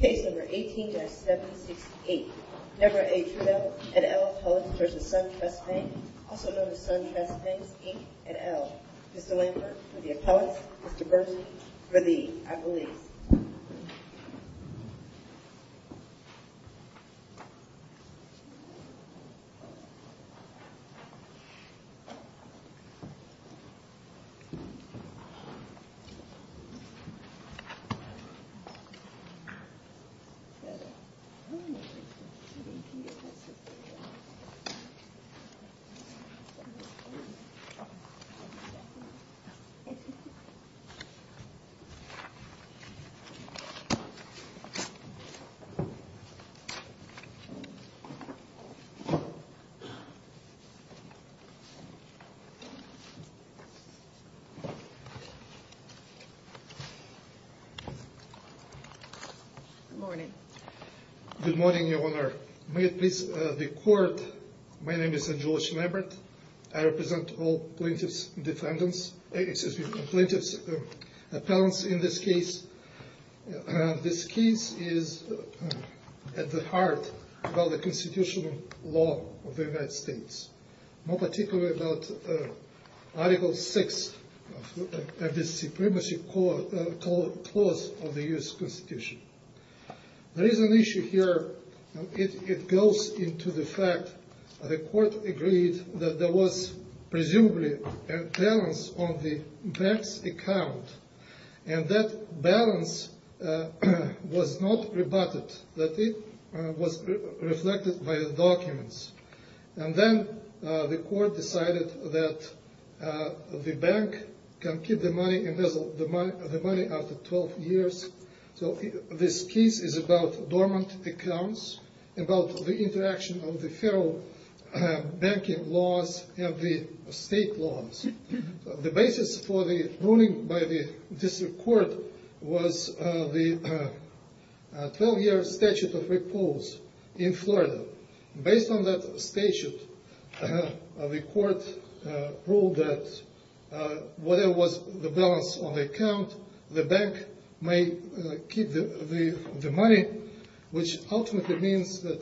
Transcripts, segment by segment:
Case number 18-768. Member A. Trudel, et al. appellant v. SunTrust Bank, also known as SunTrust Banks, Inc., et al. Mr. Lambert, for the appellant. Mr. Bernstein, for the appellant. Mr. Bernstein, for the appellant. Good morning. Good morning, Your Honor. May it please the Court, my name is Angelos Lambert. I represent all plaintiff's defendants, plaintiff's appellants in this case. This case is at the heart of the constitutional law of the United States, more particularly about Article VI of the Supremacy Clause of the U.S. Constitution. There is an issue here. It goes into the fact that the Court agreed that there was presumably a balance on the bank's account, and that balance was not rebutted, that it was reflected by the documents. And then the Court decided that the bank can keep the money after 12 years. So this case is about dormant accounts, about the interaction of the federal banking laws and the state laws. The basis for the ruling by the District Court was the 12-year Statute of Repulse in Florida. Based on that statute, the Court ruled that whatever was the balance on the account, the bank may keep the money, which ultimately means that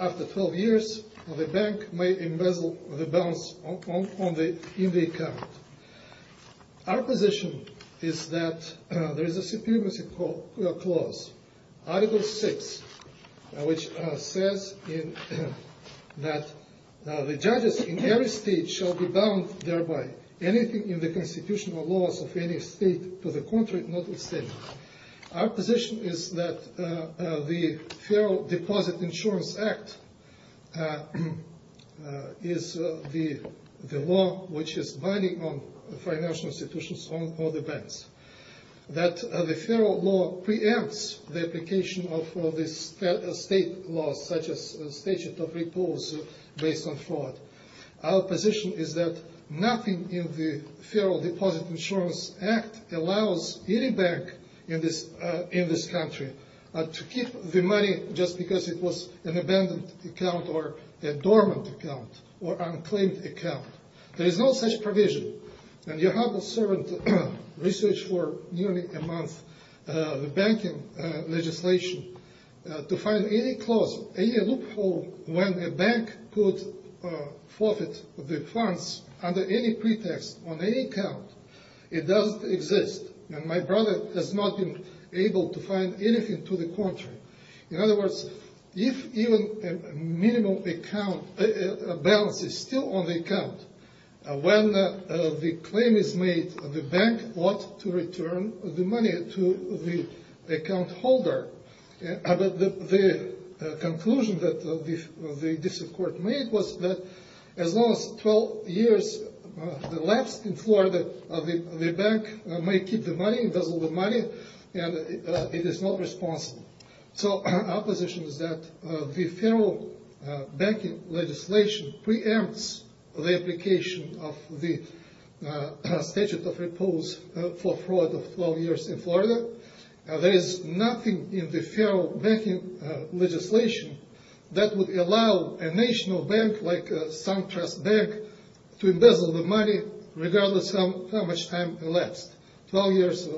after 12 years, the bank may embezzle the balance in the account. Our position is that there is a Supremacy Clause, Article VI, which says that the judges in every state shall be bound thereby. Anything in the constitutional laws of any state to the contrary, notwithstanding. Our position is that the Federal Deposit Insurance Act is the law which is binding on financial institutions or the banks, that the federal law preempts the application of state laws such as the Statute of Repulse based on fraud. Our position is that nothing in the Federal Deposit Insurance Act allows any bank in this country to keep the money just because it was an abandoned account or a dormant account or unclaimed account. There is no such provision, and your humble servant researched for nearly a month the banking legislation to find any clause, any loophole when a bank could forfeit the funds under any pretext on any account. It doesn't exist. And my brother has not been able to find anything to the contrary. In other words, if even a minimum account balance is still on the account, when the claim is made, the bank ought to return the money to the account holder. However, the conclusion that the District Court made was that as long as 12 years elapsed in Florida, the bank may keep the money and it is not responsible. So our position is that the federal banking legislation preempts the application of the Statute of Repulse for fraud of 12 years in Florida. There is nothing in the federal banking legislation that would allow a national bank like SunTrust Bank to embezzle the money regardless of how much time elapsed. 12 years,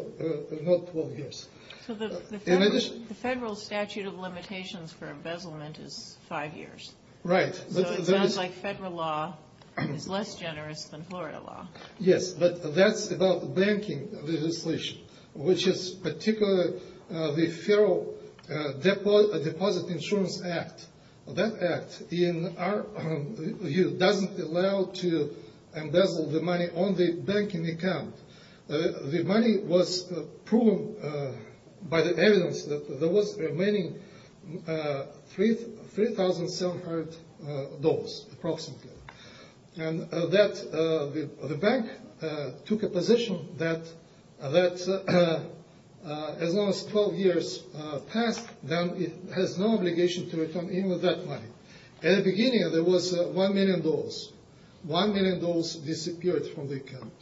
not 12 years. So the federal statute of limitations for embezzlement is 5 years. Right. So it sounds like federal law is less generous than Florida law. Yes, but that's about the banking legislation, which is particularly the Federal Deposit Insurance Act. That act in our view doesn't allow to embezzle the money on the banking account. The money was proven by the evidence that there was remaining $3,700 approximately. And that the bank took a position that as long as 12 years passed, then it has no obligation to return even that money. At the beginning, there was $1 million. $1 million disappeared from the account.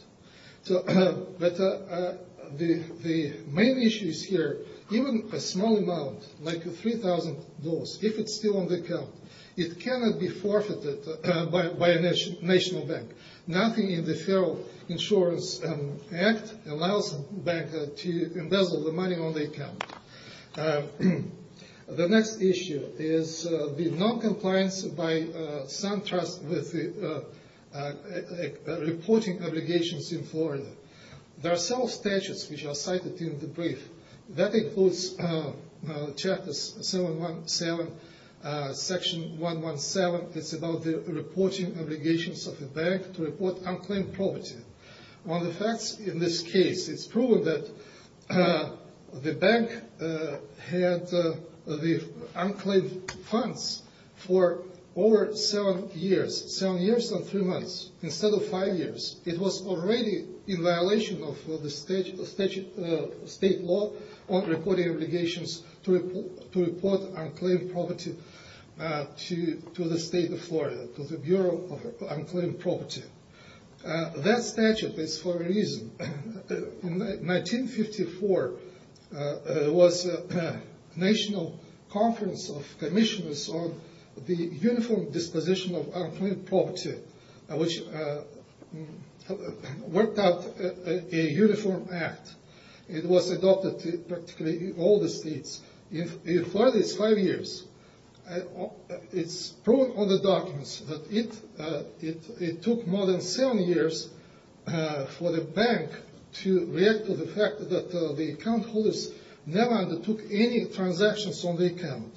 But the main issue is here, even a small amount like $3,000, if it's still on the account, it cannot be forfeited by a national bank. Nothing in the federal insurance act allows a bank to embezzle the money on the account. The next issue is the non-compliance by some trusts with reporting obligations in Florida. There are several statutes which are cited in the brief. That includes chapters 717, section 117, it's about the reporting obligations of the bank to report unclaimed property. One of the facts in this case, it's proven that the bank had the unclaimed funds for over 7 years, 7 years and 3 months, instead of 5 years. It was already in violation of the state law on reporting obligations to report unclaimed property to the state of Florida, to the Bureau of Unclaimed Property. That statute is for a reason. In 1954, there was a national conference of commissioners on the uniform disposition of unclaimed property, which worked out a uniform act. It was adopted in practically all the states. In Florida, it's 5 years. It's proven on the documents that it took more than 7 years for the bank to react to the fact that the account holders never undertook any transactions on the account.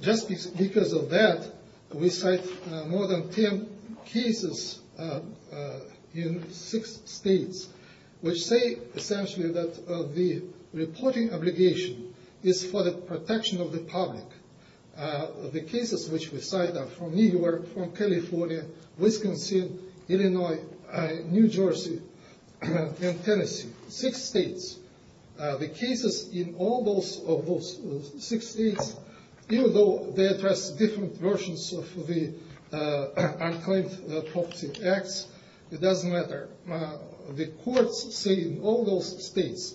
Just because of that, we cite more than 10 cases in 6 states, which say essentially that the reporting obligation is for the protection of the public. The cases which we cite are from New York, from California, Wisconsin, Illinois, New Jersey, and Tennessee. 6 states. The cases in all those 6 states, even though they address different versions of the unclaimed property acts, it doesn't matter. The courts say in all those states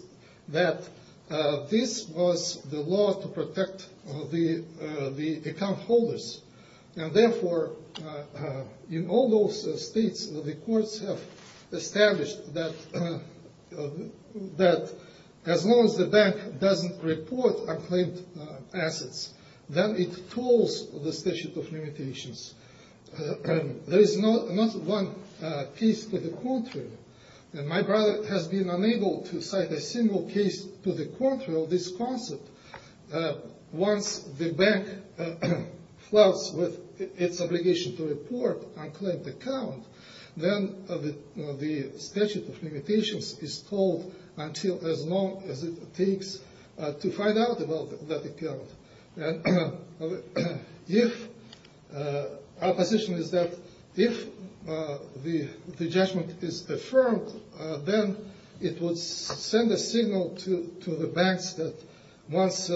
that this was the law to protect the account holders. Therefore, in all those states, the courts have established that as long as the bank doesn't report unclaimed assets, then it tolls the statute of limitations. There is not one case to the contrary. My brother has been unable to cite a single case to the contrary of this concept. Once the bank floods with its obligation to report an unclaimed account, then the statute of limitations is told until as long as it takes to find out about that account. Our position is that if the judgment is affirmed, then it would send a signal to the banks that once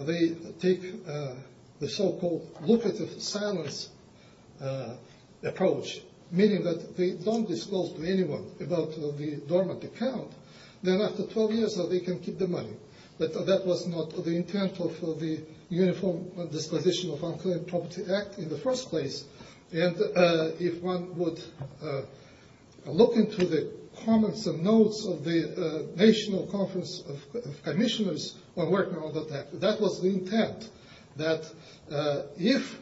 they take the so-called lucrative silence approach, meaning that they don't disclose to anyone about the dormant account, then after 12 years they can keep the money. But that was not the intent of the Uniform Disposition of Unclaimed Property Act in the first place. And if one would look into the comments and notes of the National Conference of Commissioners, that was the intent, that if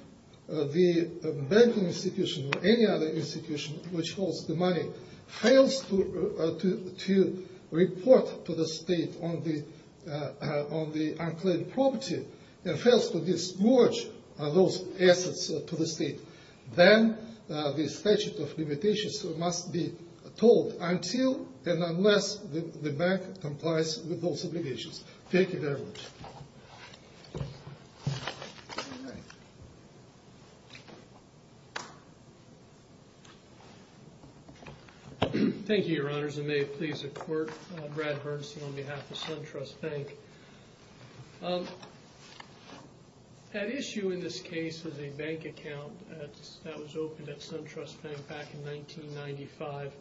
the banking institution or any other institution which holds the money fails to report to the state on the unclaimed property, and fails to disclose those assets to the state, then the statute of limitations must be told until and unless the bank complies with those obligations. Thank you very much. Thank you, Your Honors, and may it please the Court, Brad Hernstein on behalf of SunTrust Bank. That issue in this case was a bank account that was opened at SunTrust Bank back in 1995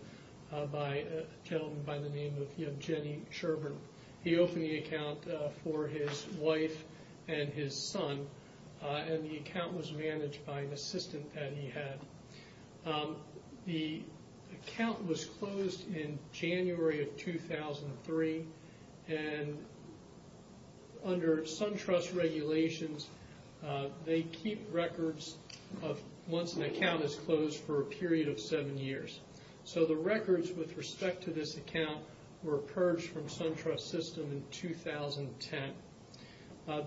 by a gentleman by the name of Jenny Cherburn. He opened the account for his wife and his son, and the account was managed by an assistant that he had. The account was closed in January of 2003, and under SunTrust regulations, they keep records once an account is closed for a period of seven years. So the records with respect to this account were purged from SunTrust's system in 2010.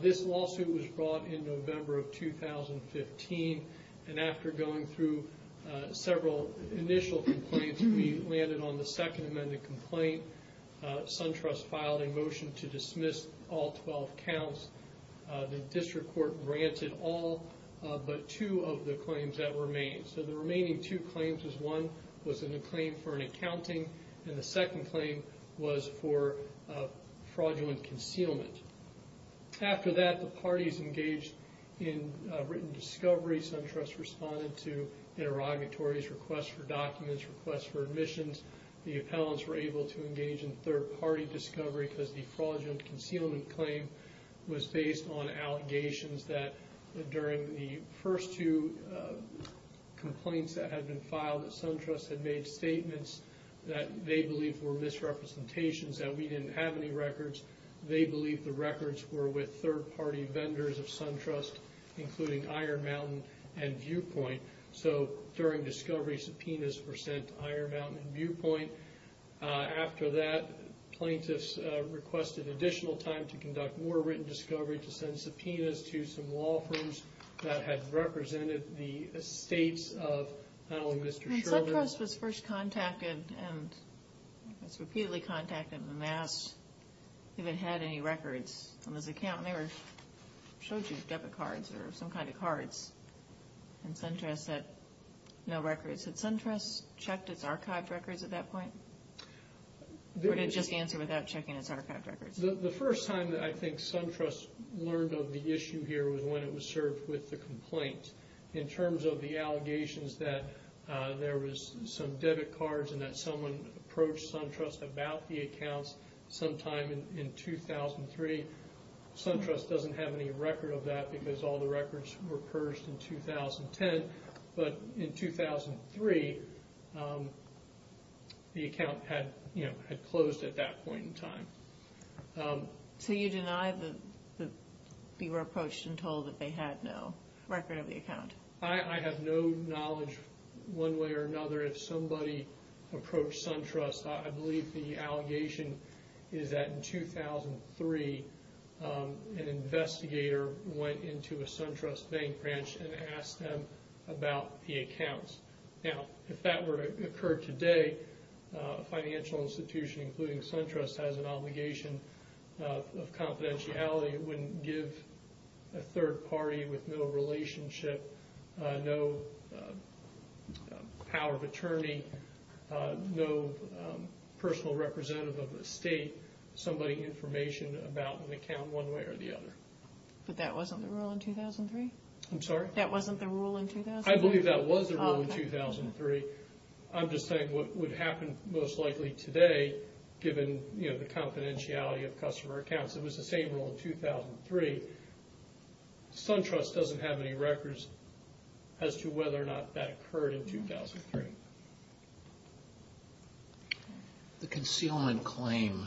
This lawsuit was brought in November of 2015, and after going through several initial complaints, we landed on the second amended complaint. SunTrust filed a motion to dismiss all 12 counts. The district court granted all but two of the claims that remained. So the remaining two claims was one was a claim for an accounting, and the second claim was for fraudulent concealment. After that, the parties engaged in written discovery. SunTrust responded to interrogatories, requests for documents, requests for admissions. The appellants were able to engage in third-party discovery because the fraudulent concealment claim was based on allegations that during the first two complaints that had been filed, that SunTrust had made statements that they believed were misrepresentations, that we didn't have any records. They believed the records were with third-party vendors of SunTrust, including Iron Mountain and Viewpoint. So during discovery, subpoenas were sent to Iron Mountain and Viewpoint. After that, plaintiffs requested additional time to conduct more written discovery to send subpoenas to some law firms that had represented the estates of not only Mr. Sherman... When SunTrust first contacted and was repeatedly contacted and asked if it had any records on this account, and they showed you debit cards or some kind of cards, and SunTrust said no records. Had SunTrust checked its archived records at that point? Or did it just answer without checking its archived records? The first time that I think SunTrust learned of the issue here was when it was served with the complaint. In terms of the allegations that there was some debit cards and that someone approached SunTrust about the accounts sometime in 2003, SunTrust doesn't have any record of that because all the records were purged in 2010. But in 2003, the account had closed at that point in time. So you deny that they were approached and told that they had no record of the account? I have no knowledge one way or another if somebody approached SunTrust. I believe the allegation is that in 2003, an investigator went into a SunTrust bank branch and asked them about the accounts. Now, if that were to occur today, a financial institution including SunTrust has an obligation of confidentiality. It wouldn't give a third party with no relationship, no power of attorney, no personal representative of the state, somebody information about an account one way or the other. But that wasn't the rule in 2003? I'm sorry? I believe that was the rule in 2003. I'm just saying what would happen most likely today, given the confidentiality of customer accounts, it was the same rule in 2003. SunTrust doesn't have any records as to whether or not that occurred in 2003. The concealment claim,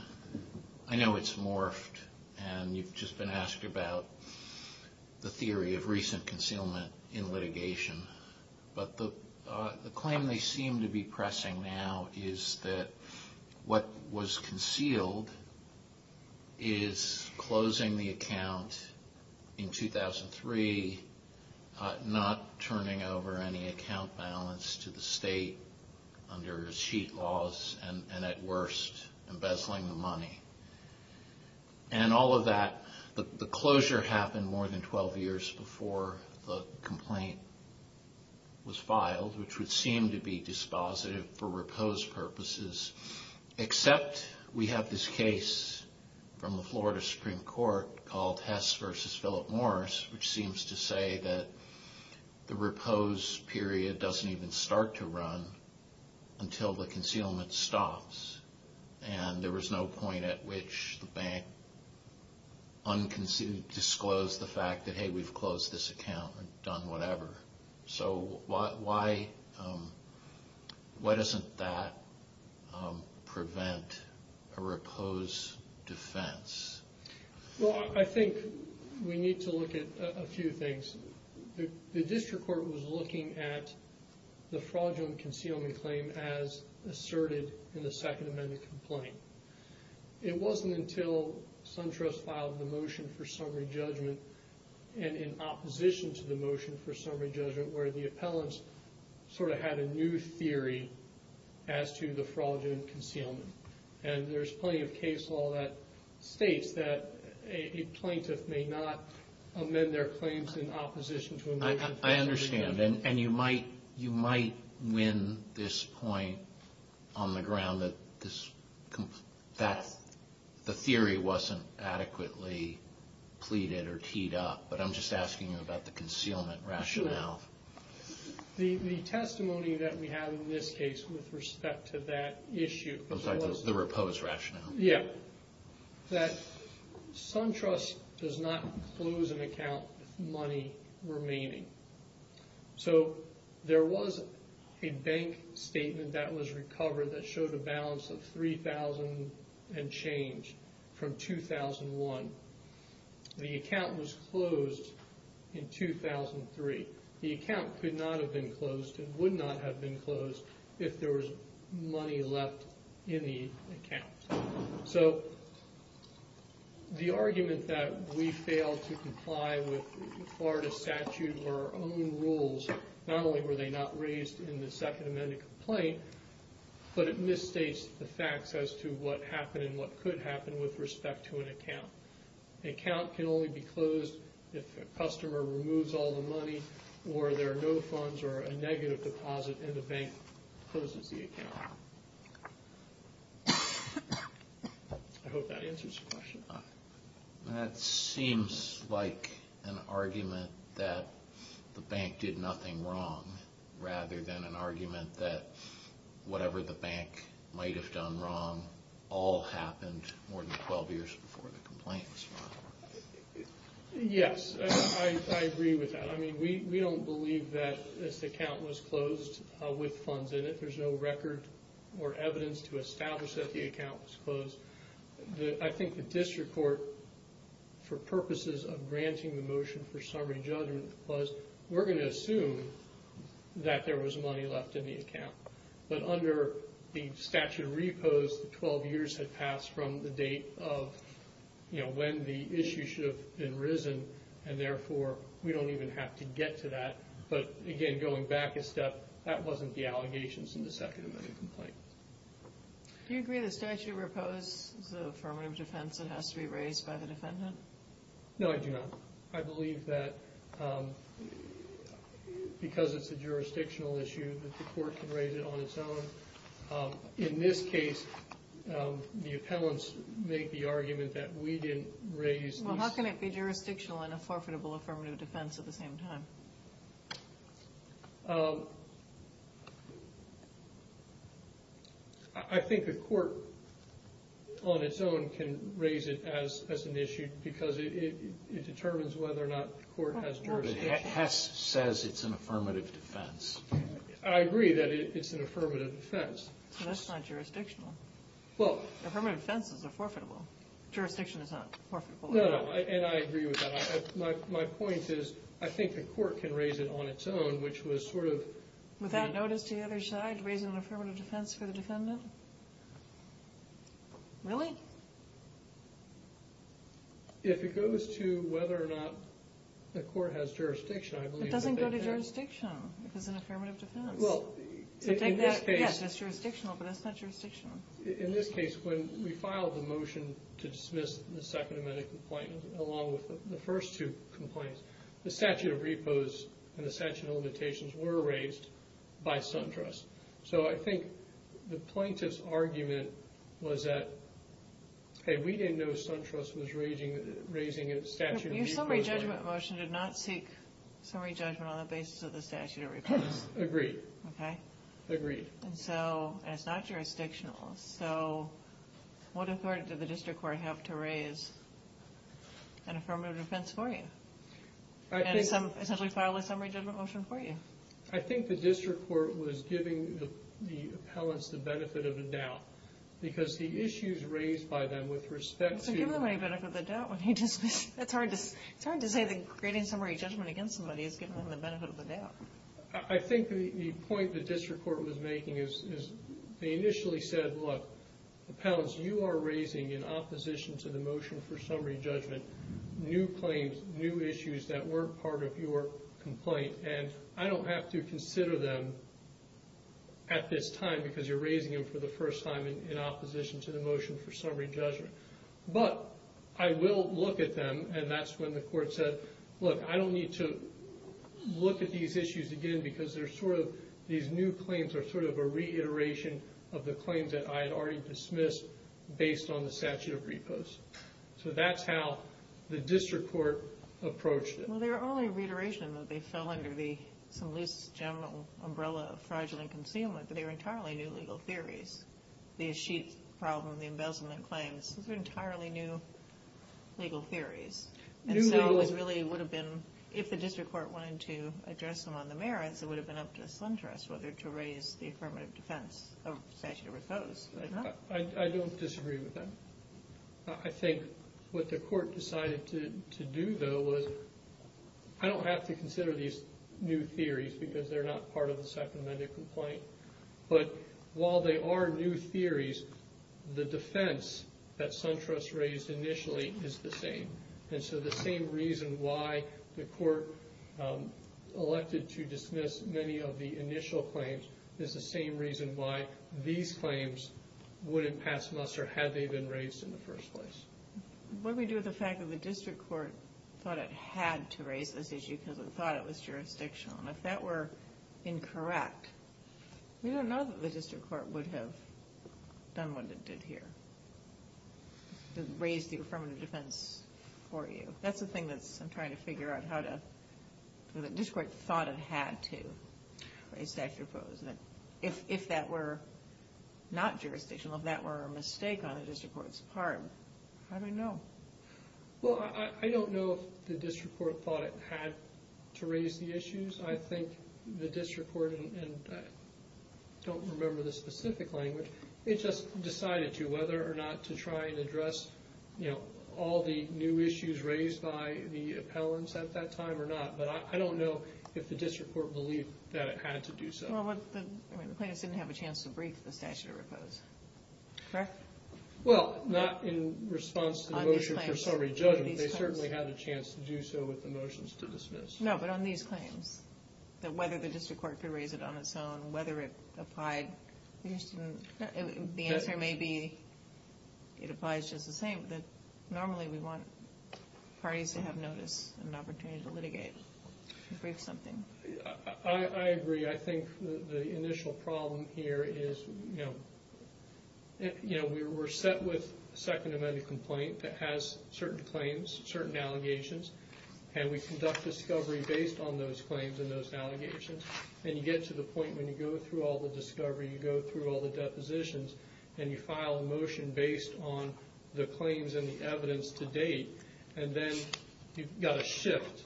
I know it's morphed and you've just been asked about the theory of recent concealment in litigation. But the claim they seem to be pressing now is that what was concealed is closing the account in 2003, not turning over any account balance to the state under receipt laws, and at worst, embezzling the money. And all of that, the closure happened more than 12 years before the complaint was filed, which would seem to be dispositive for repose purposes. Except we have this case from the Florida Supreme Court called Hess v. Philip Morris, which seems to say that the repose period doesn't even start to run until the concealment stops. And there was no point at which the bank disclosed the fact that, hey, we've closed this account and done whatever. So why doesn't that prevent a repose defense? Well, I think we need to look at a few things. The district court was looking at the fraudulent concealment claim as asserted in the Second Amendment complaint. It wasn't until SunTrust filed the motion for summary judgment, and in opposition to the motion for summary judgment, where the appellants sort of had a new theory as to the fraudulent concealment. And there's plenty of case law that states that a plaintiff may not amend their claims in opposition to a motion for summary judgment. I understand. And you might win this point on the ground that the theory wasn't adequately pleaded or teed up. But I'm just asking you about the concealment rationale. The testimony that we have in this case with respect to that issue... I'm sorry, the repose rationale. Yeah. That SunTrust does not close an account with money remaining. So there was a bank statement that was recovered that showed a balance of 3,000 and change from 2001. The account was closed in 2003. The account could not have been closed and would not have been closed if there was money left in the account. So the argument that we failed to comply with Florida statute or our own rules, not only were they not raised in the Second Amendment complaint, but it misstates the facts as to what happened and what could happen with respect to an account. An account can only be closed if a customer removes all the money or there are no funds or a negative deposit and the bank closes the account. I hope that answers your question. That seems like an argument that the bank did nothing wrong rather than an argument that whatever the bank might have done wrong all happened more than 12 years before the complaint was filed. Yes, I agree with that. We don't believe that this account was closed with funds in it. There's no record or evidence to establish that the account was closed. I think the district court, for purposes of granting the motion for summary judgment, was we're going to assume that there was money left in the account. But under the statute of repose, 12 years had passed from the date of when the issue should have been risen and therefore we don't even have to get to that. But again, going back a step, that wasn't the allegations in the Second Amendment complaint. Do you agree the statute of repose is an affirmative defense that has to be raised by the defendant? No, I do not. I believe that because it's a jurisdictional issue that the court can raise it on its own. In this case, the appellants make the argument that we didn't raise... Well, how can it be jurisdictional and a forfeitable affirmative defense at the same time? I think the court on its own can raise it as an issue because it determines whether or not the court has jurisdiction. Hess says it's an affirmative defense. I agree that it's an affirmative defense. That's not jurisdictional. Affirmative defenses are forfeitable. Jurisdiction is not forfeitable. No, and I agree with that. My point is I think the court can raise it on its own, which was sort of... Without notice to the other side, raising an affirmative defense for the defendant? Really? If it goes to whether or not the court has jurisdiction, I believe... It doesn't go to jurisdiction if it's an affirmative defense. Well, in this case... Yes, it's jurisdictional, but it's not jurisdictional. In this case, when we filed the motion to dismiss the Second Amendment complaint, along with the first two complaints, the statute of repose and the statute of limitations were raised by SunTrust. So I think the plaintiff's argument was that, hey, we didn't know SunTrust was raising a statute of repose... Your summary judgment motion did not seek summary judgment on the basis of the statute of repose. Agreed. Okay. Agreed. And it's not jurisdictional. So what authority did the district court have to raise an affirmative defense for you? And essentially file a summary judgment motion for you? I think the district court was giving the appellants the benefit of the doubt. Because the issues raised by them with respect to... So give them any benefit of the doubt when you dismiss... It's hard to say that creating summary judgment against somebody is giving them the benefit of the doubt. I think the point the district court was making is they initially said, look, appellants, you are raising, in opposition to the motion for summary judgment, new claims, new issues that weren't part of your complaint. And I don't have to consider them at this time because you're raising them for the first time in opposition to the motion for summary judgment. But I will look at them, and that's when the court said, look, I don't need to look at these issues again because these new claims are sort of a reiteration of the claims that I had already dismissed based on the statute of repose. So that's how the district court approached it. Well, they were only a reiteration that they fell under some loose general umbrella of fraudulent concealment, but they were entirely new legal theories. The Sheets problem, the embezzlement claims, those are entirely new legal theories. And so it really would have been, if the district court wanted to address them on the merits, it would have been up to a slanderous whether to raise the affirmative defense of statute of repose. I don't disagree with that. I think what the court decided to do, though, was I don't have to consider these new theories because they're not part of the Second Amendment complaint. But while they are new theories, the defense that SunTrust raised initially is the same. And so the same reason why the court elected to dismiss many of the initial claims is the same reason why these claims wouldn't pass muster had they been raised in the first place. What do we do with the fact that the district court thought it had to raise this issue because it thought it was jurisdictional? And if that were incorrect, we don't know that the district court would have done what it did here, to raise the affirmative defense for you. That's the thing that I'm trying to figure out, how the district court thought it had to raise statute of repose. If that were not jurisdictional, if that were a mistake on the district court's part, how do we know? Well, I don't know if the district court thought it had to raise the issues. I think the district court, and I don't remember the specific language, it just decided to, whether or not to try and address all the new issues raised by the appellants at that time or not. But I don't know if the district court believed that it had to do so. Well, the plaintiffs didn't have a chance to brief the statute of repose, correct? Well, not in response to the motion for summary judgment. They certainly had a chance to do so with the motions to dismiss. No, but on these claims, whether the district court could raise it on its own, whether it applied, the answer may be it applies just the same, but normally we want parties to have notice and an opportunity to litigate and brief something. I agree. I think the initial problem here is, you know, we're set with a Second Amendment complaint that has certain claims, certain allegations, and we conduct discovery based on those claims and those allegations, and you get to the point when you go through all the discovery, you go through all the depositions, and you file a motion based on the claims and the evidence to date, and then you've got to shift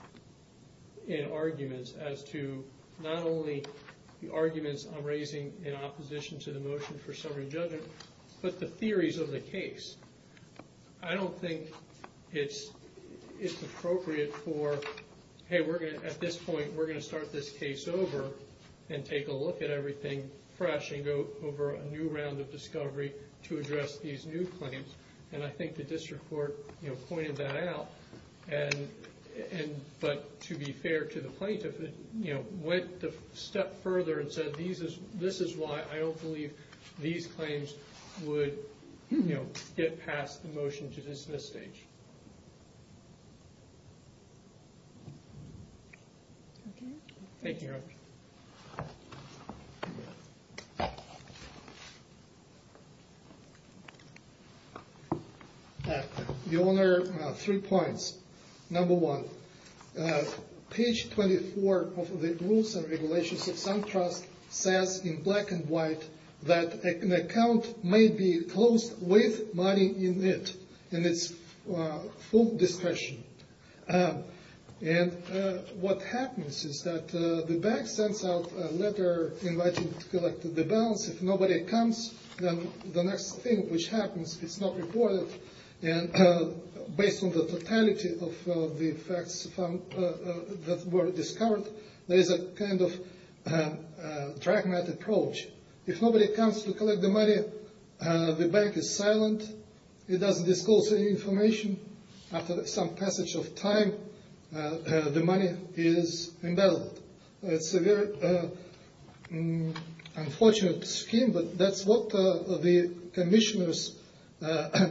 in arguments as to not only the arguments I'm raising in opposition to the motion for summary judgment, but the theories of the case. I don't think it's appropriate for, hey, at this point we're going to start this case over and take a look at everything fresh and go over a new round of discovery to address these new claims. And I think the district court pointed that out. But to be fair to the plaintiff, it went a step further and said, this is why I don't believe these claims would get past the motion to dismiss stage. Thank you. Your Honor, three points. Number one, page 24 of the Rules and Regulations of Some Trust says in black and white that an account may be closed with money in it, and it's full discretion. And what happens is that the bank sends out a letter inviting to collect the balance. If nobody comes, then the next thing which happens, it's not reported. And based on the totality of the facts that were discovered, there is a kind of pragmatic approach. If nobody comes to collect the money, the bank is silent. It doesn't disclose any information. After some passage of time, the money is embedded. It's a very unfortunate scheme, but that's what the commissioners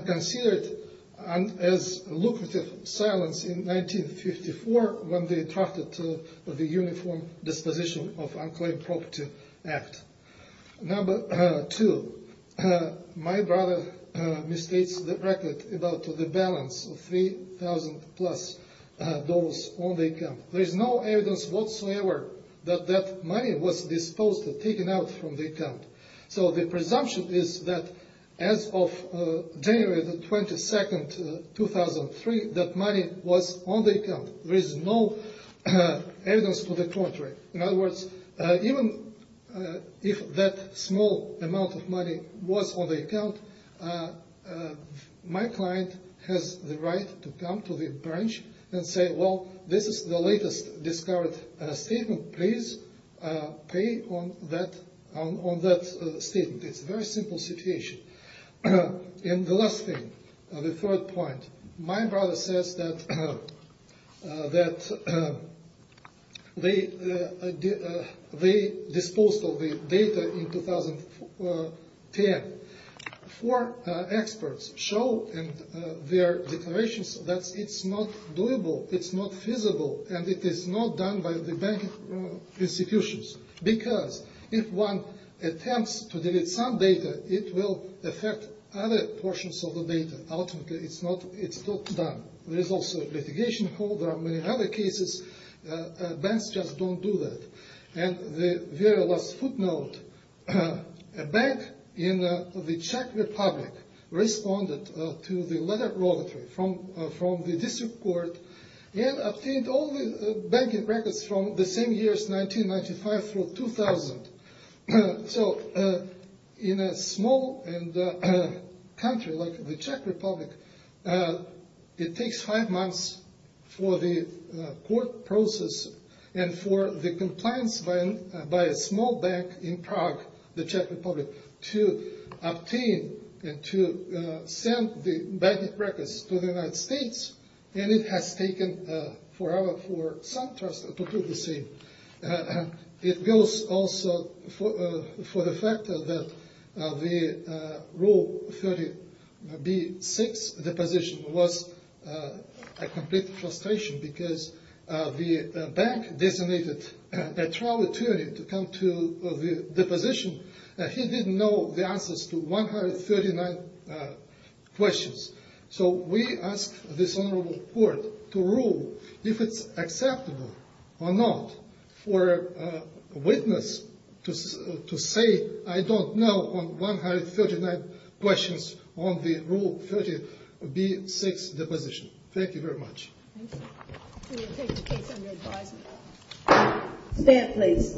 considered as lucrative silence in 1954 when they drafted the Uniform Disposition of Unclaimed Property Act. Number two, my brother misstates the record about the balance of $3,000 plus on the account. There is no evidence whatsoever that that money was disposed of, taken out from the account. So the presumption is that as of January 22, 2003, that money was on the account. There is no evidence to the contrary. In other words, even if that small amount of money was on the account, my client has the right to come to the branch and say, well, this is the latest discovered statement. Please pay on that statement. It's a very simple situation. And the last thing, the third point. My brother says that they disposed of the data in 2010. Four experts show in their declarations that it's not doable, it's not feasible, and it is not done by the bank institutions. Because if one attempts to delete some data, it will affect other portions of the data. Ultimately, it's not done. There is also litigation. There are many other cases. Banks just don't do that. And the very last footnote. A bank in the Czech Republic responded to the letter of obituary from the district court and obtained all the banking records from the same years, 1995 through 2000. So in a small country like the Czech Republic, it takes five months for the court process and for the compliance by a small bank in Prague, the Czech Republic, to obtain and to send the banking records to the United States, and it has taken forever for some trusts to do the same. It goes also for the fact that the Rule 30b-6 deposition was a complete frustration because the bank designated a trial attorney to come to the deposition. He didn't know the answers to 139 questions. So we ask this Honorable Court to rule if it's acceptable or not for a witness to say, I don't know on 139 questions on the Rule 30b-6 deposition. Thank you very much. Stand, please.